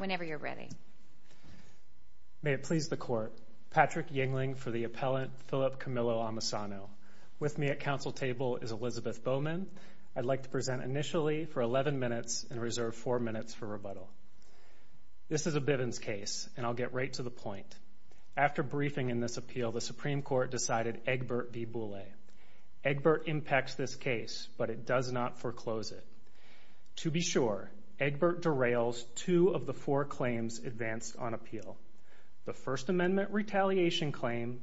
May it please the Court, Patrick Yingling for the appellant Philip Camillo-Amisano. With me at council table is Elizabeth Bowman. I'd like to present initially for 11 minutes and reserve 4 minutes for rebuttal. This is a Bivens case, and I'll get right to the point. After briefing in this appeal, the Supreme Court decided Egbert v. Boulay. Egbert impacts this case, but it does not foreclose it. To be sure, Egbert derails two of the four claims advanced on appeal, the First Amendment retaliation claim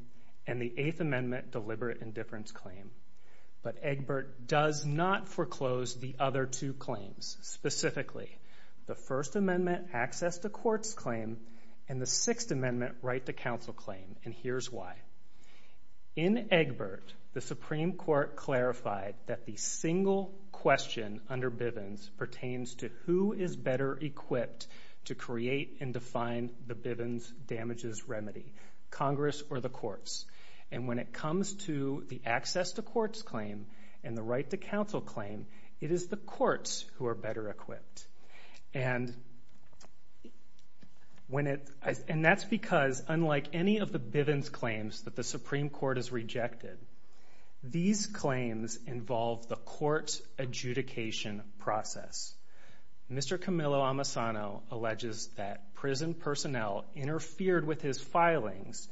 and the Eighth Amendment deliberate indifference claim. But Egbert does not foreclose the other two claims, specifically the First Amendment access to courts claim and the Sixth Amendment right to counsel claim, and here's why. In Egbert, the Supreme Court clarified that the single question under Bivens pertains to who is better equipped to create and define the Bivens damages remedy, Congress or the courts. And when it comes to the access to courts claim and the right to counsel claim, it is the courts who are better equipped. And when it, and that's because unlike any of the Bivens claims that the Supreme Court has rejected, these claims involve the court adjudication process. Mr. Camillo-Amasano alleges that prison personnel interfered with his filings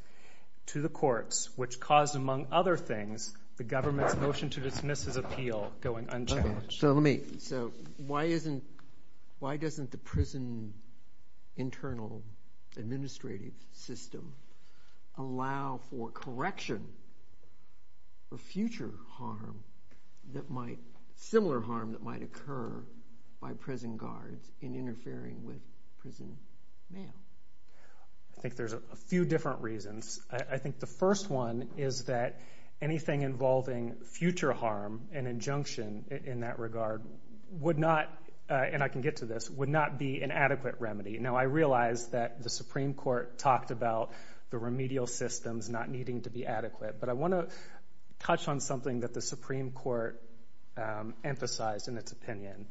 to the courts, which caused, among other things, the government's motion to dismiss his appeal going unchallenged. So let me, so why isn't, why doesn't the prison internal administrative system allow for correction for future harm that might, similar harm that might occur by prison guards in interfering with prison mail? I think there's a few different reasons. I think the first one is that anything involving future harm, an injunction in that regard, would not, and I can get to this, would not be an adequate remedy. Now, I realize that the Supreme Court talked about the remedial systems not needing to be adequate, but I want to touch on something that the Supreme Court emphasized in its opinion.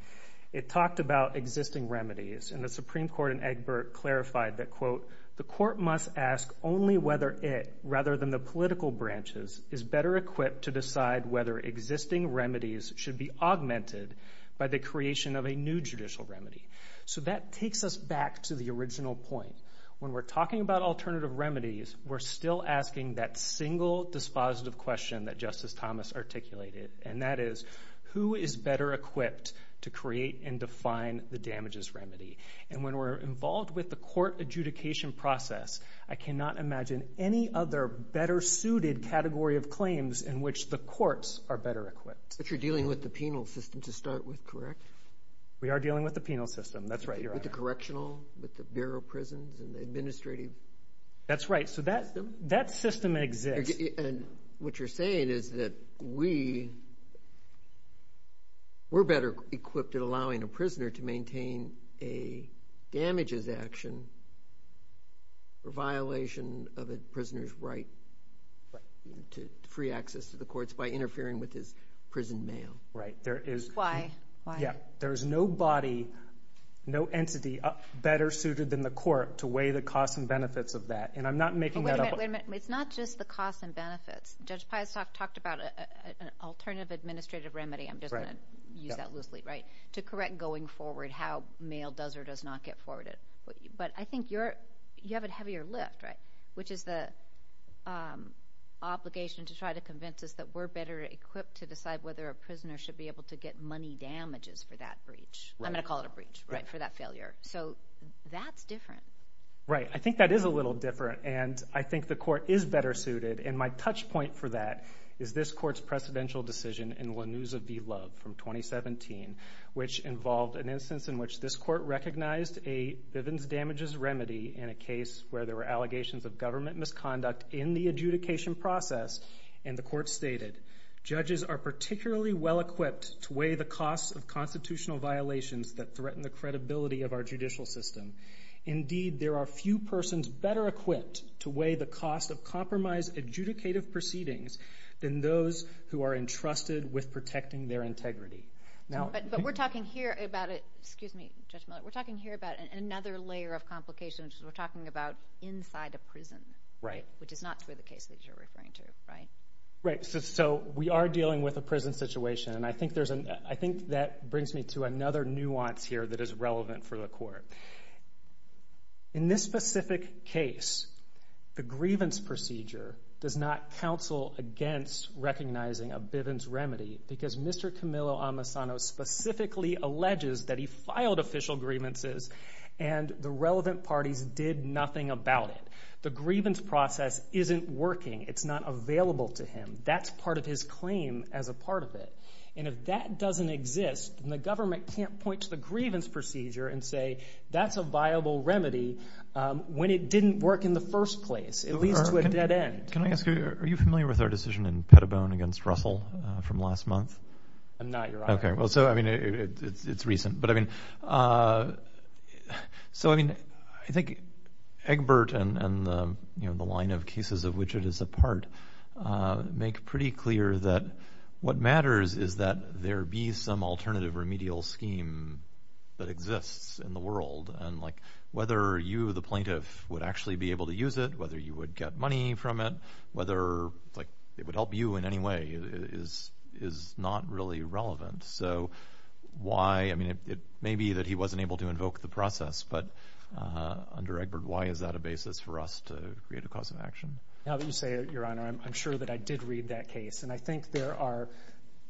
It talked about existing remedies, and the Supreme Court in Egbert clarified that, quote, the court must ask only whether it, rather than the political branches, is better equipped to decide whether existing remedies should be augmented by the creation of a new judicial remedy. So that takes us back to the original point. When we're talking about alternative remedies, we're still asking that single dispositive question that Justice Thomas articulated, and that is, who is better equipped to create and define the damages remedy? And when we're involved with the court adjudication process, I cannot imagine any other better suited category of claims in which the courts are better equipped. But you're dealing with the penal system to start with, correct? We are dealing with the penal system, that's right, Your Honor. With the correctional, with the Bureau of Prisons, and the administrative system? That's right, so that system exists. And what you're saying is that we, we're better equipped at allowing a prisoner to maintain a damages action, a violation of a prisoner's right to free access to the courts by interfering with his prison mail. Right, there is. Why? Yeah, there is no body, no entity better suited than the court to weigh the costs and benefits of that, and I'm not making that up. Wait a minute, it's not just the costs and benefits. Judge Peistok talked about an alternative administrative remedy, I'm just going to use that loosely, right, to correct going forward how mail does or does not get forwarded. But I think you're, you have a heavier lift, right, which is the obligation to try to convince us that we're better equipped to decide whether a prisoner should be able to get money damages for that breach. Right. I'm going to call it a breach, right, for that failure. So that's different. Right, I think that is a little different, and I think the court is better suited, and my touch point for that is this court's precedential decision in Lanusa v. Love from 2017, which involved an instance in which this court recognized a Bivens damages remedy in a case where there were allegations of government misconduct in the adjudication process, and the court stated, judges are particularly well equipped to weigh the costs of constitutional violations that threaten the credibility of our judicial system. Indeed, there are few persons better equipped to weigh the cost of compromise adjudicative proceedings than those who are entrusted with protecting their integrity. But we're talking here about it, excuse me, Judge Miller, we're talking here about another layer of complication, which is we're talking about inside a prison. Right. Which is not true of the case that you're referring to, right? Right, so we are dealing with a prison situation, and I think that brings me to another nuance here that is relevant for the court. In this recognizing a Bivens remedy, because Mr. Camillo Amasano specifically alleges that he filed official grievances, and the relevant parties did nothing about it. The grievance process isn't working. It's not available to him. That's part of his claim as a part of it. And if that doesn't exist, then the government can't point to the grievance procedure and say that's a viable remedy when it didn't work in the first place, at least to a dead end. Can I ask you, are you familiar with our decision in Pettibone against Russell from last month? I'm not, Your Honor. Okay, well, so I mean, it's recent, but I mean, so I mean, I think Egbert and, you know, the line of cases of which it is a part make pretty clear that what matters is that there be some alternative remedial scheme that exists in the world. And like, whether you, the plaintiff, would actually be able to use it, whether you would get money from it, whether it would help you in any way is not really relevant. So why, I mean, it may be that he wasn't able to invoke the process, but under Egbert, why is that a basis for us to create a cause of action? Now that you say it, Your Honor, I'm sure that I did read that case. And I think there are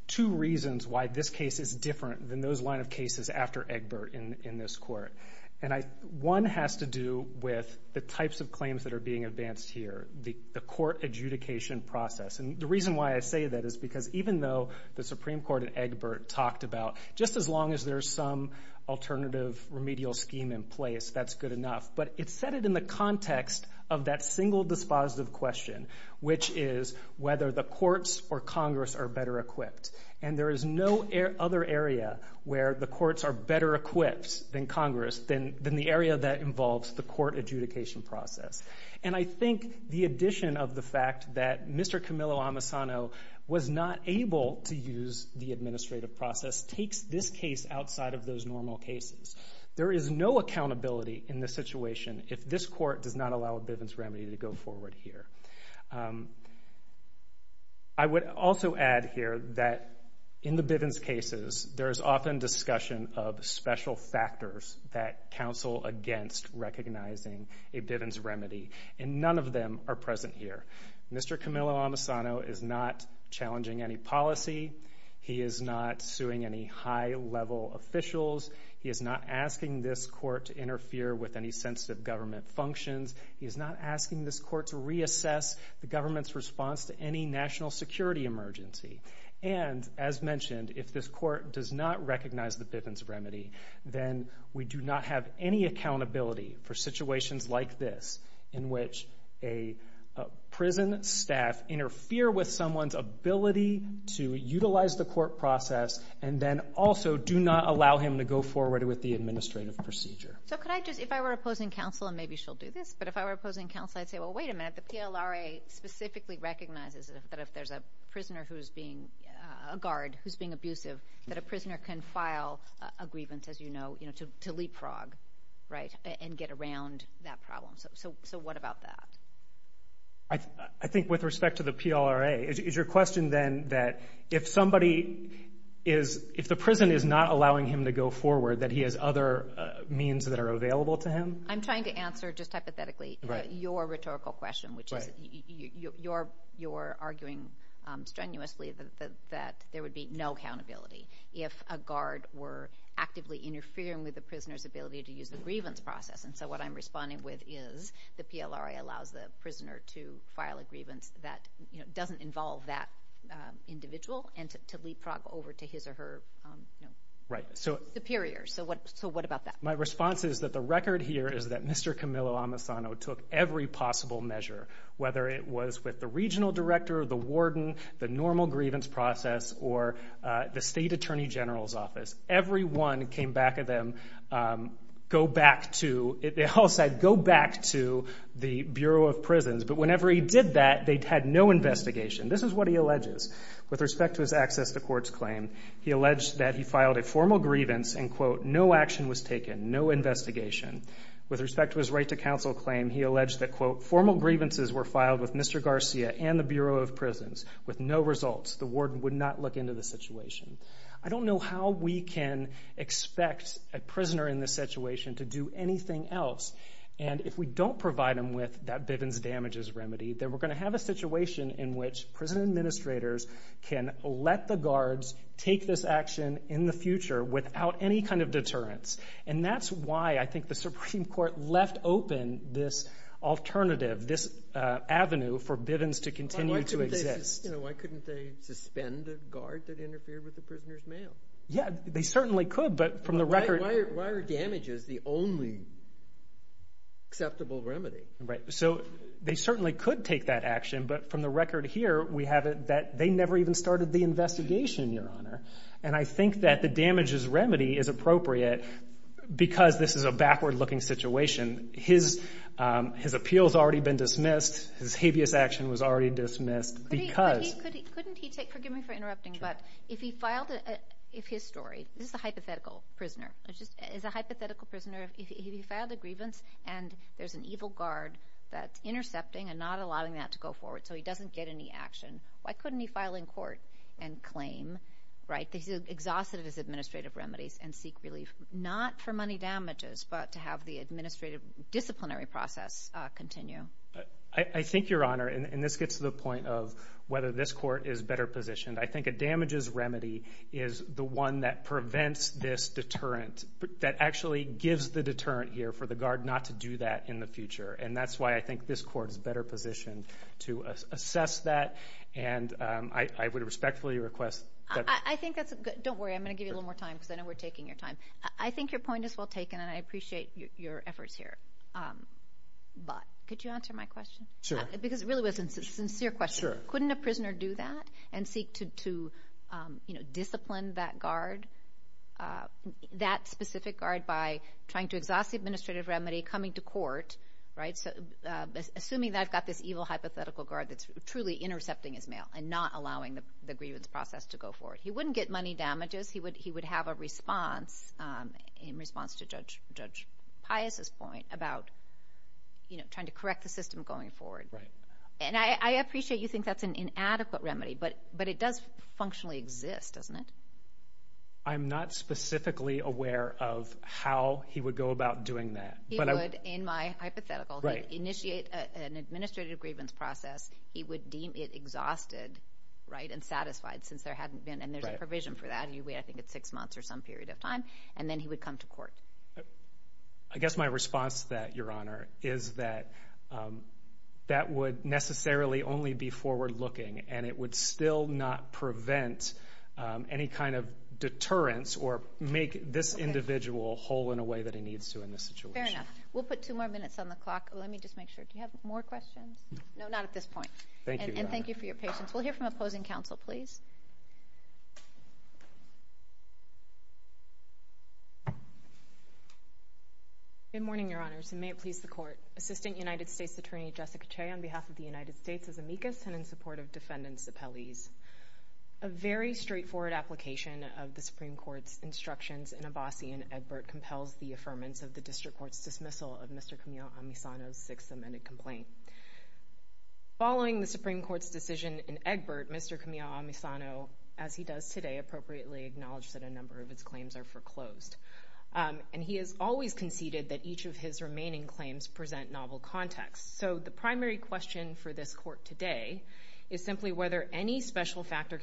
two reasons why this case is different than those line of cases after Egbert in this Court. And one has to do with the types of events here, the court adjudication process. And the reason why I say that is because even though the Supreme Court in Egbert talked about just as long as there's some alternative remedial scheme in place, that's good enough. But it's set it in the context of that single dispositive question, which is whether the courts or Congress are better equipped. And there is no other area where the courts are better equipped than Congress, than the area that involves the court adjudication process. And I think the addition of the fact that Mr. Camillo-Amasano was not able to use the administrative process takes this case outside of those normal cases. There is no accountability in this situation if this Court does not allow a Bivens remedy to go forward here. I would also add here that in the Bivens cases, there is no accountability against recognizing a Bivens remedy. And none of them are present here. Mr. Camillo-Amasano is not challenging any policy. He is not suing any high-level officials. He is not asking this Court to interfere with any sensitive government functions. He is not asking this Court to reassess the government's response to any national security emergency. And as mentioned, if this Court does not recognize the Bivens remedy, then we do not have any accountability for situations like this, in which a prison staff interfere with someone's ability to utilize the court process, and then also do not allow him to go forward with the administrative procedure. So could I just, if I were opposing counsel, and maybe she'll do this, but if I were opposing counsel, I'd say, well, wait a minute, the PLRA specifically recognizes that if there's a prisoner who's being, a guard who's being abusive, that a prisoner can file a grievance, as you know, to leapfrog, right, and get around that problem. So what about that? I think with respect to the PLRA, is your question then that if somebody is, if the prison is not allowing him to go forward, that he has other means that are available to him? I'm trying to answer, just hypothetically, your rhetorical question, which is, you're arguing strenuously that there would be no accountability if a guard were actively interfering with the prisoner's ability to use the grievance process, and so what I'm responding with is, the PLRA allows the prisoner to file a grievance that, you know, doesn't involve that individual and to leapfrog over to his or her, you know, superior. So what about that? My response is that the record here is that Mr. Camillo-Amasano took every possible measure, whether it was with the regional director, the warden, the normal grievance process, or the state attorney general's office. Everyone came back at them, go back to, they all said, go back to the Bureau of Prisons, but whenever he did that, they had no investigation. This is what he alleges. With respect to his access to courts claim, he alleged that he filed a formal grievance and, quote, no action was taken, no investigation. With respect to his right to counsel claim, he alleged that, quote, formal grievances were filed with Mr. Garcia and the Bureau of Prisons. With no results, the warden would not look into the situation. I don't know how we can expect a prisoner in this situation to do anything else, and if we don't provide them with that Bivens-Damages remedy, then we're going to have a situation in which prison administrators can let the guards take this action in the open, this alternative, this avenue for Bivens to continue to exist. Why couldn't they suspend the guard that interfered with the prisoner's mail? Yeah, they certainly could, but from the record... Why are damages the only acceptable remedy? So they certainly could take that action, but from the record here, we have it that they never even started the investigation, Your Honor, and I think that the damages remedy is appropriate because this is a backward-looking situation. His appeal has already been dismissed. His habeas action was already dismissed because... Couldn't he take... Forgive me for interrupting, but if he filed... If his story... This is a hypothetical prisoner. It's a hypothetical prisoner. If he filed a grievance and there's an evil guard that's intercepting and not allowing that to go forward, so he doesn't get any action, why couldn't he file in court and claim, right? He's exhausted of his administrative remedies and seek relief, not for money damages, but to have the administrative disciplinary process continue? I think, Your Honor, and this gets to the point of whether this court is better positioned, I think a damages remedy is the one that prevents this deterrent, that actually gives the deterrent here for the guard not to do that in the future, and that's why I think this court is better positioned to assess that, and I would respectfully request that... I think that's a good... Don't worry. I'm going to give you a little more time because I know we're taking your time. I think your point is well taken, and I appreciate your efforts here, but could you answer my question? Sure. Because it really was a sincere question. Sure. Couldn't a prisoner do that and seek to discipline that guard, that specific guard, by trying to exhaust the administrative remedy, coming to court, assuming that I've got this evil hypothetical guard that's truly intercepting his mail and not allowing the grievance process to go forward? He wouldn't get money damages. He would have a response, in response to Judge Pius's point about trying to correct the system going forward. Right. And I appreciate you think that's an inadequate remedy, but it does functionally exist, doesn't it? I'm not specifically aware of how he would go about doing that. He would, in my hypothetical. Right. He'd initiate an administrative grievance process. He would deem it exhausted, right, and unsatisfied, since there hadn't been, and there's a provision for that, and you wait, I think it's six months or some period of time, and then he would come to court. I guess my response to that, Your Honor, is that that would necessarily only be forward looking, and it would still not prevent any kind of deterrence or make this individual whole in a way that he needs to in this situation. Fair enough. We'll put two more minutes on the clock. Let me just make sure. Do you have Thank you, Your Honor. And thank you for your patience. We'll hear from opposing counsel, please. Good morning, Your Honors, and may it please the Court. Assistant United States Attorney Jessica Che, on behalf of the United States, is amicus and in support of Defendants' Appellees. A very straightforward application of the Supreme Court's instructions in Abbasi and Egbert compels the affirmance of the District Court's dismissal of Mr. Kamil Amisano's sixth amended complaint. Following the Supreme Court's decision in Egbert, Mr. Kamil Amisano, as he does today, appropriately acknowledged that a number of his claims are foreclosed. And he has always conceded that each of his remaining claims present novel context. So the primary question for this Court today is simply whether any special factor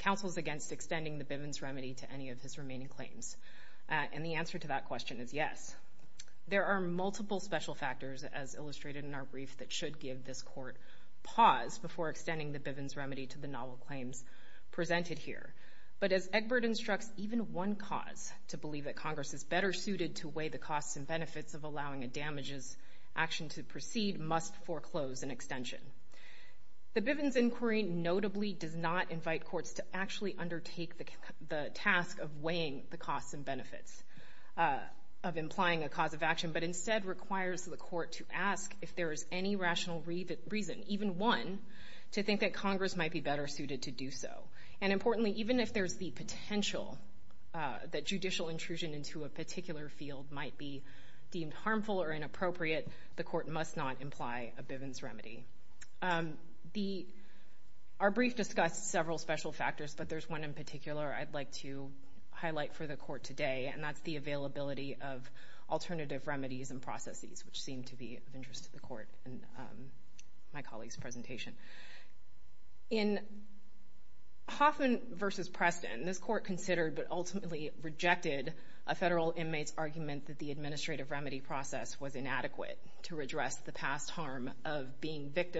counsels against extending the Bivens remedy to any of his remaining claims. And the answer to that question is yes. There are multiple special factors, as illustrated in our brief, that should give this Court pause before extending the Bivens remedy to the novel claims presented here. But as Egbert instructs, even one cause to believe that Congress is better suited to weigh the costs and benefits of allowing a damages action to proceed must foreclose an extension. The Bivens inquiry notably does not invite courts to actually undertake the task of weighing the costs and benefits of implying a cause of action, but instead requires the Court to ask if there is any rational reason, even one, to think that Congress might be better suited to do so. And importantly, even if there's the potential that judicial intrusion into a particular field might be deemed harmful or inappropriate, the Court must not imply a Bivens remedy. Our brief discussed several special factors, but there's one in particular I'd like to highlight for the Court today, and that's the availability of alternative remedies and processes, which seem to be of interest to the Court in my colleague's presentation. In Hoffman v. Preston, this Court considered but ultimately rejected a federal inmate's argument that the administrative remedy process was inadequate to redress the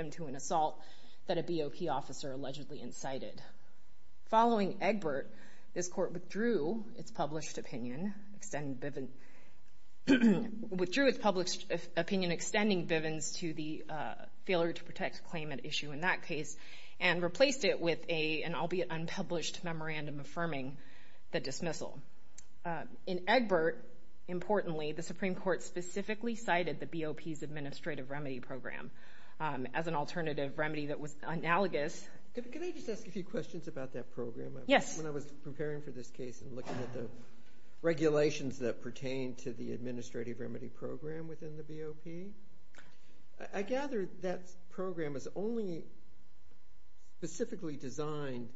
issue. In Hoffman v. Egbert, this Court withdrew its published opinion extending Bivens to the failure-to-protect claimant issue in that case, and replaced it with an albeit unpublished memorandum affirming the dismissal. In Egbert, importantly, the Supreme Court specifically cited the BOP's administrative remedy program as an alternative remedy that was analogous to the Bivens remedy. Could I just ask a few questions about that program? Yes. When I was preparing for this case and looking at the regulations that pertain to the administrative remedy program within the BOP, I gather that program is only specifically designed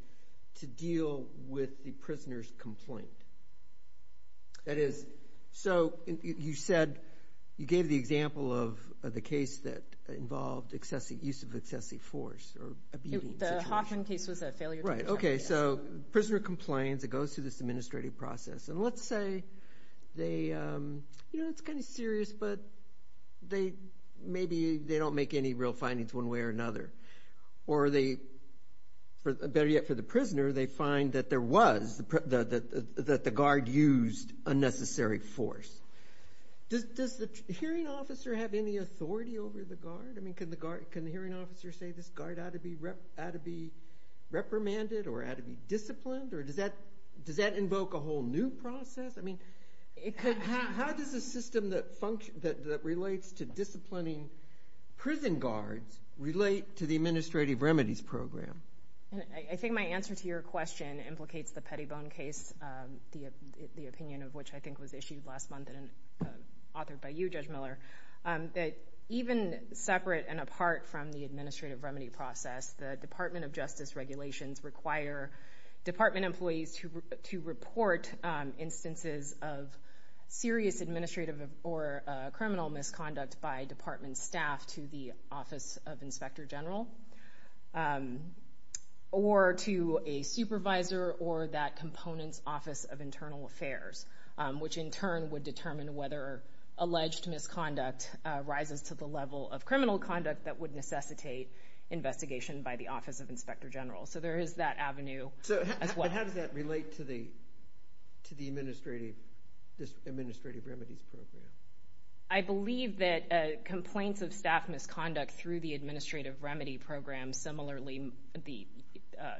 to deal with the prisoner's complaint. That is, so you said you gave the example of the case that involved excessive use of excessive force or a beating situation. The Hoffman case was a failure-to-protect case. Right. Okay, so the prisoner complains. It goes through this administrative process. Let's say, it's kind of serious, but maybe they don't make any real findings one way or another. Better yet, for the prisoner, they find that the guard used unnecessary force. Does the hearing officer have any authority over the guard? I mean, can the hearing officer say this guard ought to be reprimanded or ought to be disciplined, or does that invoke a whole new process? I mean, how does a system that relates to disciplining prison guards relate to the administrative remedies program? I think my answer to your question implicates the Pettibone case, the opinion of which I issued last month and authored by you, Judge Miller, that even separate and apart from the administrative remedy process, the Department of Justice regulations require department employees to report instances of serious administrative or criminal misconduct by department staff to the Office of Inspector General or to a supervisor or that component's Office of Internal Affairs, which in turn would determine whether alleged misconduct rises to the level of criminal conduct that would necessitate investigation by the Office of Inspector General. So there is that avenue as well. So how does that relate to the administrative remedies program? I believe that complaints of staff misconduct through the administrative remedy program, similarly, the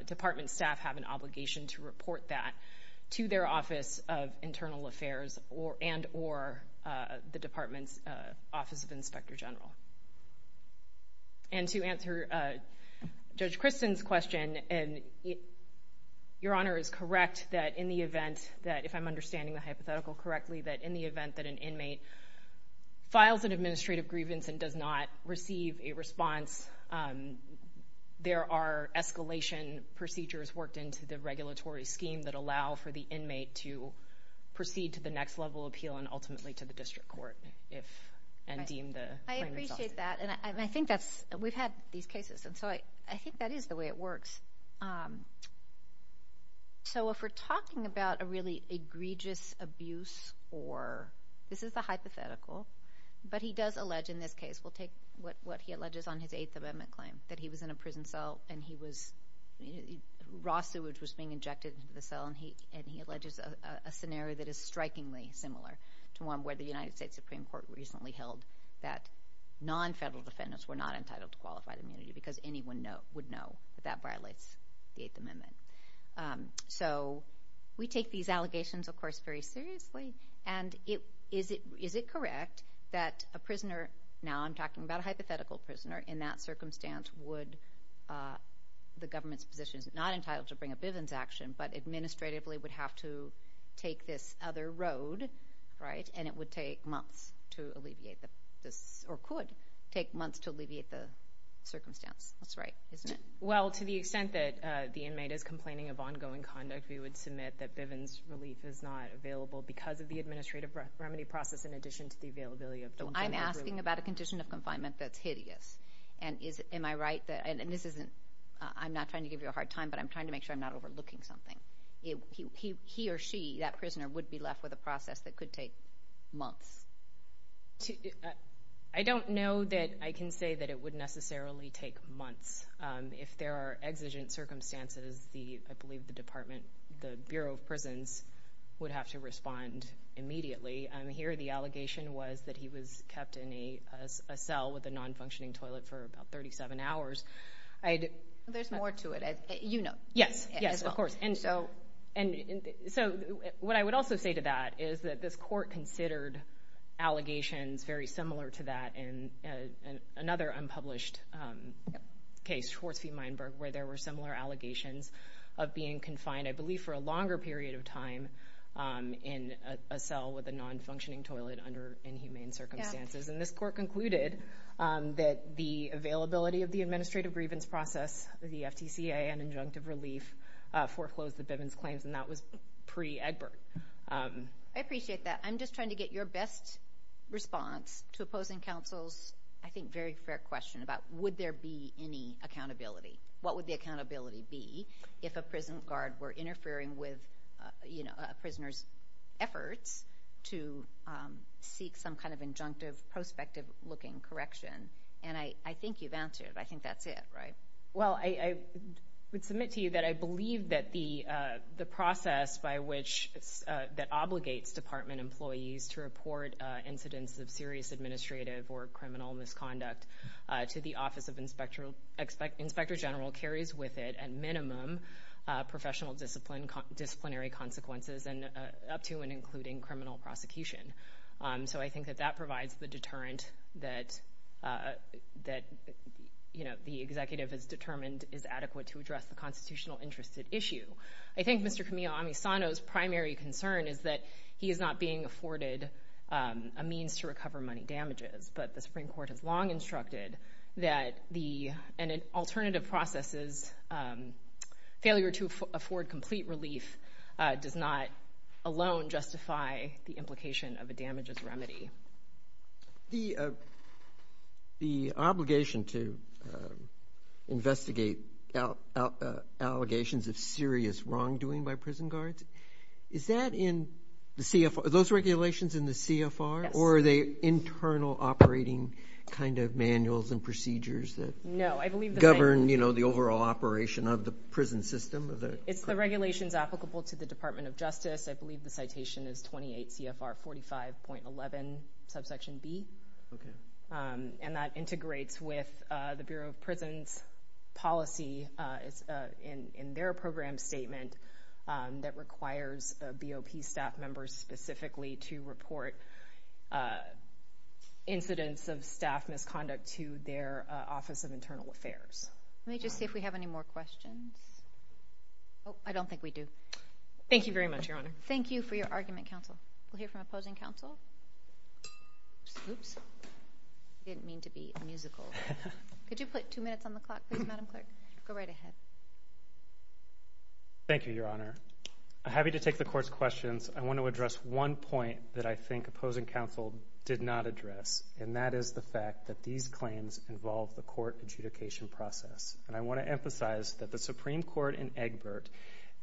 department staff have an obligation to report that to their Office of Internal Affairs and or the department's Office of Inspector General. And to answer Judge Christen's question, Your Honor is correct that in the event that, if I'm understanding the hypothetical correctly, that in the event that an inmate files an there are escalation procedures worked into the regulatory scheme that allow for the inmate to proceed to the next level appeal and ultimately to the district court and deem the claim resolved. I appreciate that. And I think that's, we've had these cases, and so I think that is the way it works. So if we're talking about a really egregious abuse or, this is the hypothetical, but he does allege in this case, we'll take what he alleges on his Eighth Amendment claim that he was in a prison cell and he was, raw sewage was being injected into the cell and he alleges a scenario that is strikingly similar to one where the United States Supreme Court recently held that non-federal defendants were not entitled to qualified immunity because anyone would know that that violates the Eighth Amendment. So we take these allegations, of course, very seriously. And is it correct that a prisoner, now I'm talking about a hypothetical prisoner, in that circumstance would, the government's position is not entitled to bring a Bivens action, but administratively would have to take this other road, right, and it would take months to alleviate this, or could take months to alleviate the circumstance. That's right, isn't it? Well, to the extent that the inmate is complaining of ongoing conduct, we would submit that Bivens relief is not available because of the administrative remedy process in addition to the availability of don't bring that road. So I'm asking about a condition of confinement that's hideous, and is, am I right that, and this isn't, I'm not trying to give you a hard time, but I'm trying to make sure I'm not overlooking something. He or she, that prisoner, would be left with a process that could take months. I don't know that I can say that it would necessarily take months. If there are exigent circumstances, the, I believe the department, the Bureau of Prisons would have to respond immediately. Here, the allegation was that he was kept in a cell with a non-functioning toilet for about 37 hours. There's more to it, as you know. Yes, yes, of course. And so, and so what I would also say to that is that this court considered allegations very similar to that in another unpublished case, Schwartz v. Meinberg, where there were similar allegations of being confined, I believe for a longer period of time, in a cell with a non-functioning toilet under inhumane circumstances. And this court concluded that the availability of the administrative grievance process, the FTCA and injunctive relief foreclosed the Bivens claims, and that was pre-Egbert. I appreciate that. I'm just trying to get your best response to opposing counsel's, I think, very fair question about would there be any accountability? What would the accountability be if a prison guard were interfering with, you know, a prisoner's efforts to seek some kind of injunctive, prospective-looking correction? And I think you've answered. I think that's it, right? Well, I would submit to you that I believe that the process by which, that obligates department employees to report incidents of serious administrative or criminal misconduct to the Office of Inspector General carries with it, at minimum, professional disciplinary consequences and up to and including criminal prosecution. So I think that that provides the deterrent that, you know, the executive has determined is adequate to address the constitutional interest at issue. I think Mr. Kamil Amisano's primary concern is that he is not being afforded a means to be instructed that an alternative process's failure to afford complete relief does not alone justify the implication of a damages remedy. The obligation to investigate allegations of serious wrongdoing by prison guards, is that in the CFR? Are those regulations in the CFR? Yes. Or are they internal operating kind of manuals and procedures that govern, you know, the overall operation of the prison system? It's the regulations applicable to the Department of Justice. I believe the citation is 28 CFR 45.11, subsection B, and that integrates with the Bureau of Prisons policy in their program statement that requires BOP staff members specifically to report incidents of staff misconduct to their Office of Internal Affairs. Let me just see if we have any more questions. Oh, I don't think we do. Thank you very much, Your Honor. Thank you for your argument, counsel. We'll hear from opposing counsel. Oops. I didn't mean to be musical. Could you put two minutes on the clock, please, Madam Clerk? Go right ahead. Thank you, Your Honor. I'm happy to take the Court's questions. I want to address one point that I think opposing counsel did not address, and that is the fact that these claims involve the court adjudication process. And I want to emphasize that the Supreme Court in Egbert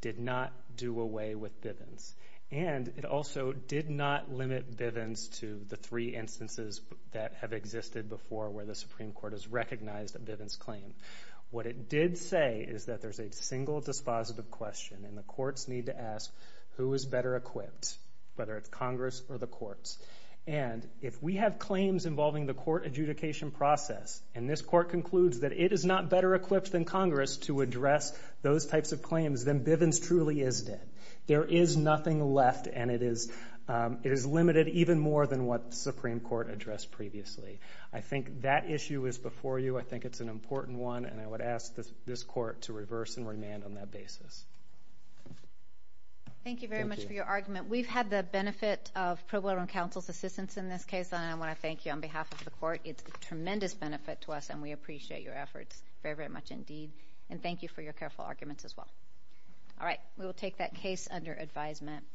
did not do away with Bivens. And it also did not limit Bivens to the three instances that have existed before where the Supreme Court has recognized a Bivens claim. What it did say is that there's a single dispositive question, and the courts need to ask, who is better equipped, whether it's Congress or the courts? And if we have claims involving the court adjudication process, and this Court concludes that it is not better equipped than Congress to address those types of claims, then Bivens truly is dead. There is nothing left, and it is limited even more than what the Supreme Court addressed previously. I think that issue is before you. I think it's an important one, and I would ask this Court to reverse and remand on that basis. Thank you very much for your argument. We've had the benefit of pro bono counsel's assistance in this case, and I want to thank you on behalf of the Court. It's a tremendous benefit to us, and we appreciate your efforts very, very much indeed. And thank you for your careful arguments as well. All right, we will take that case under advisement.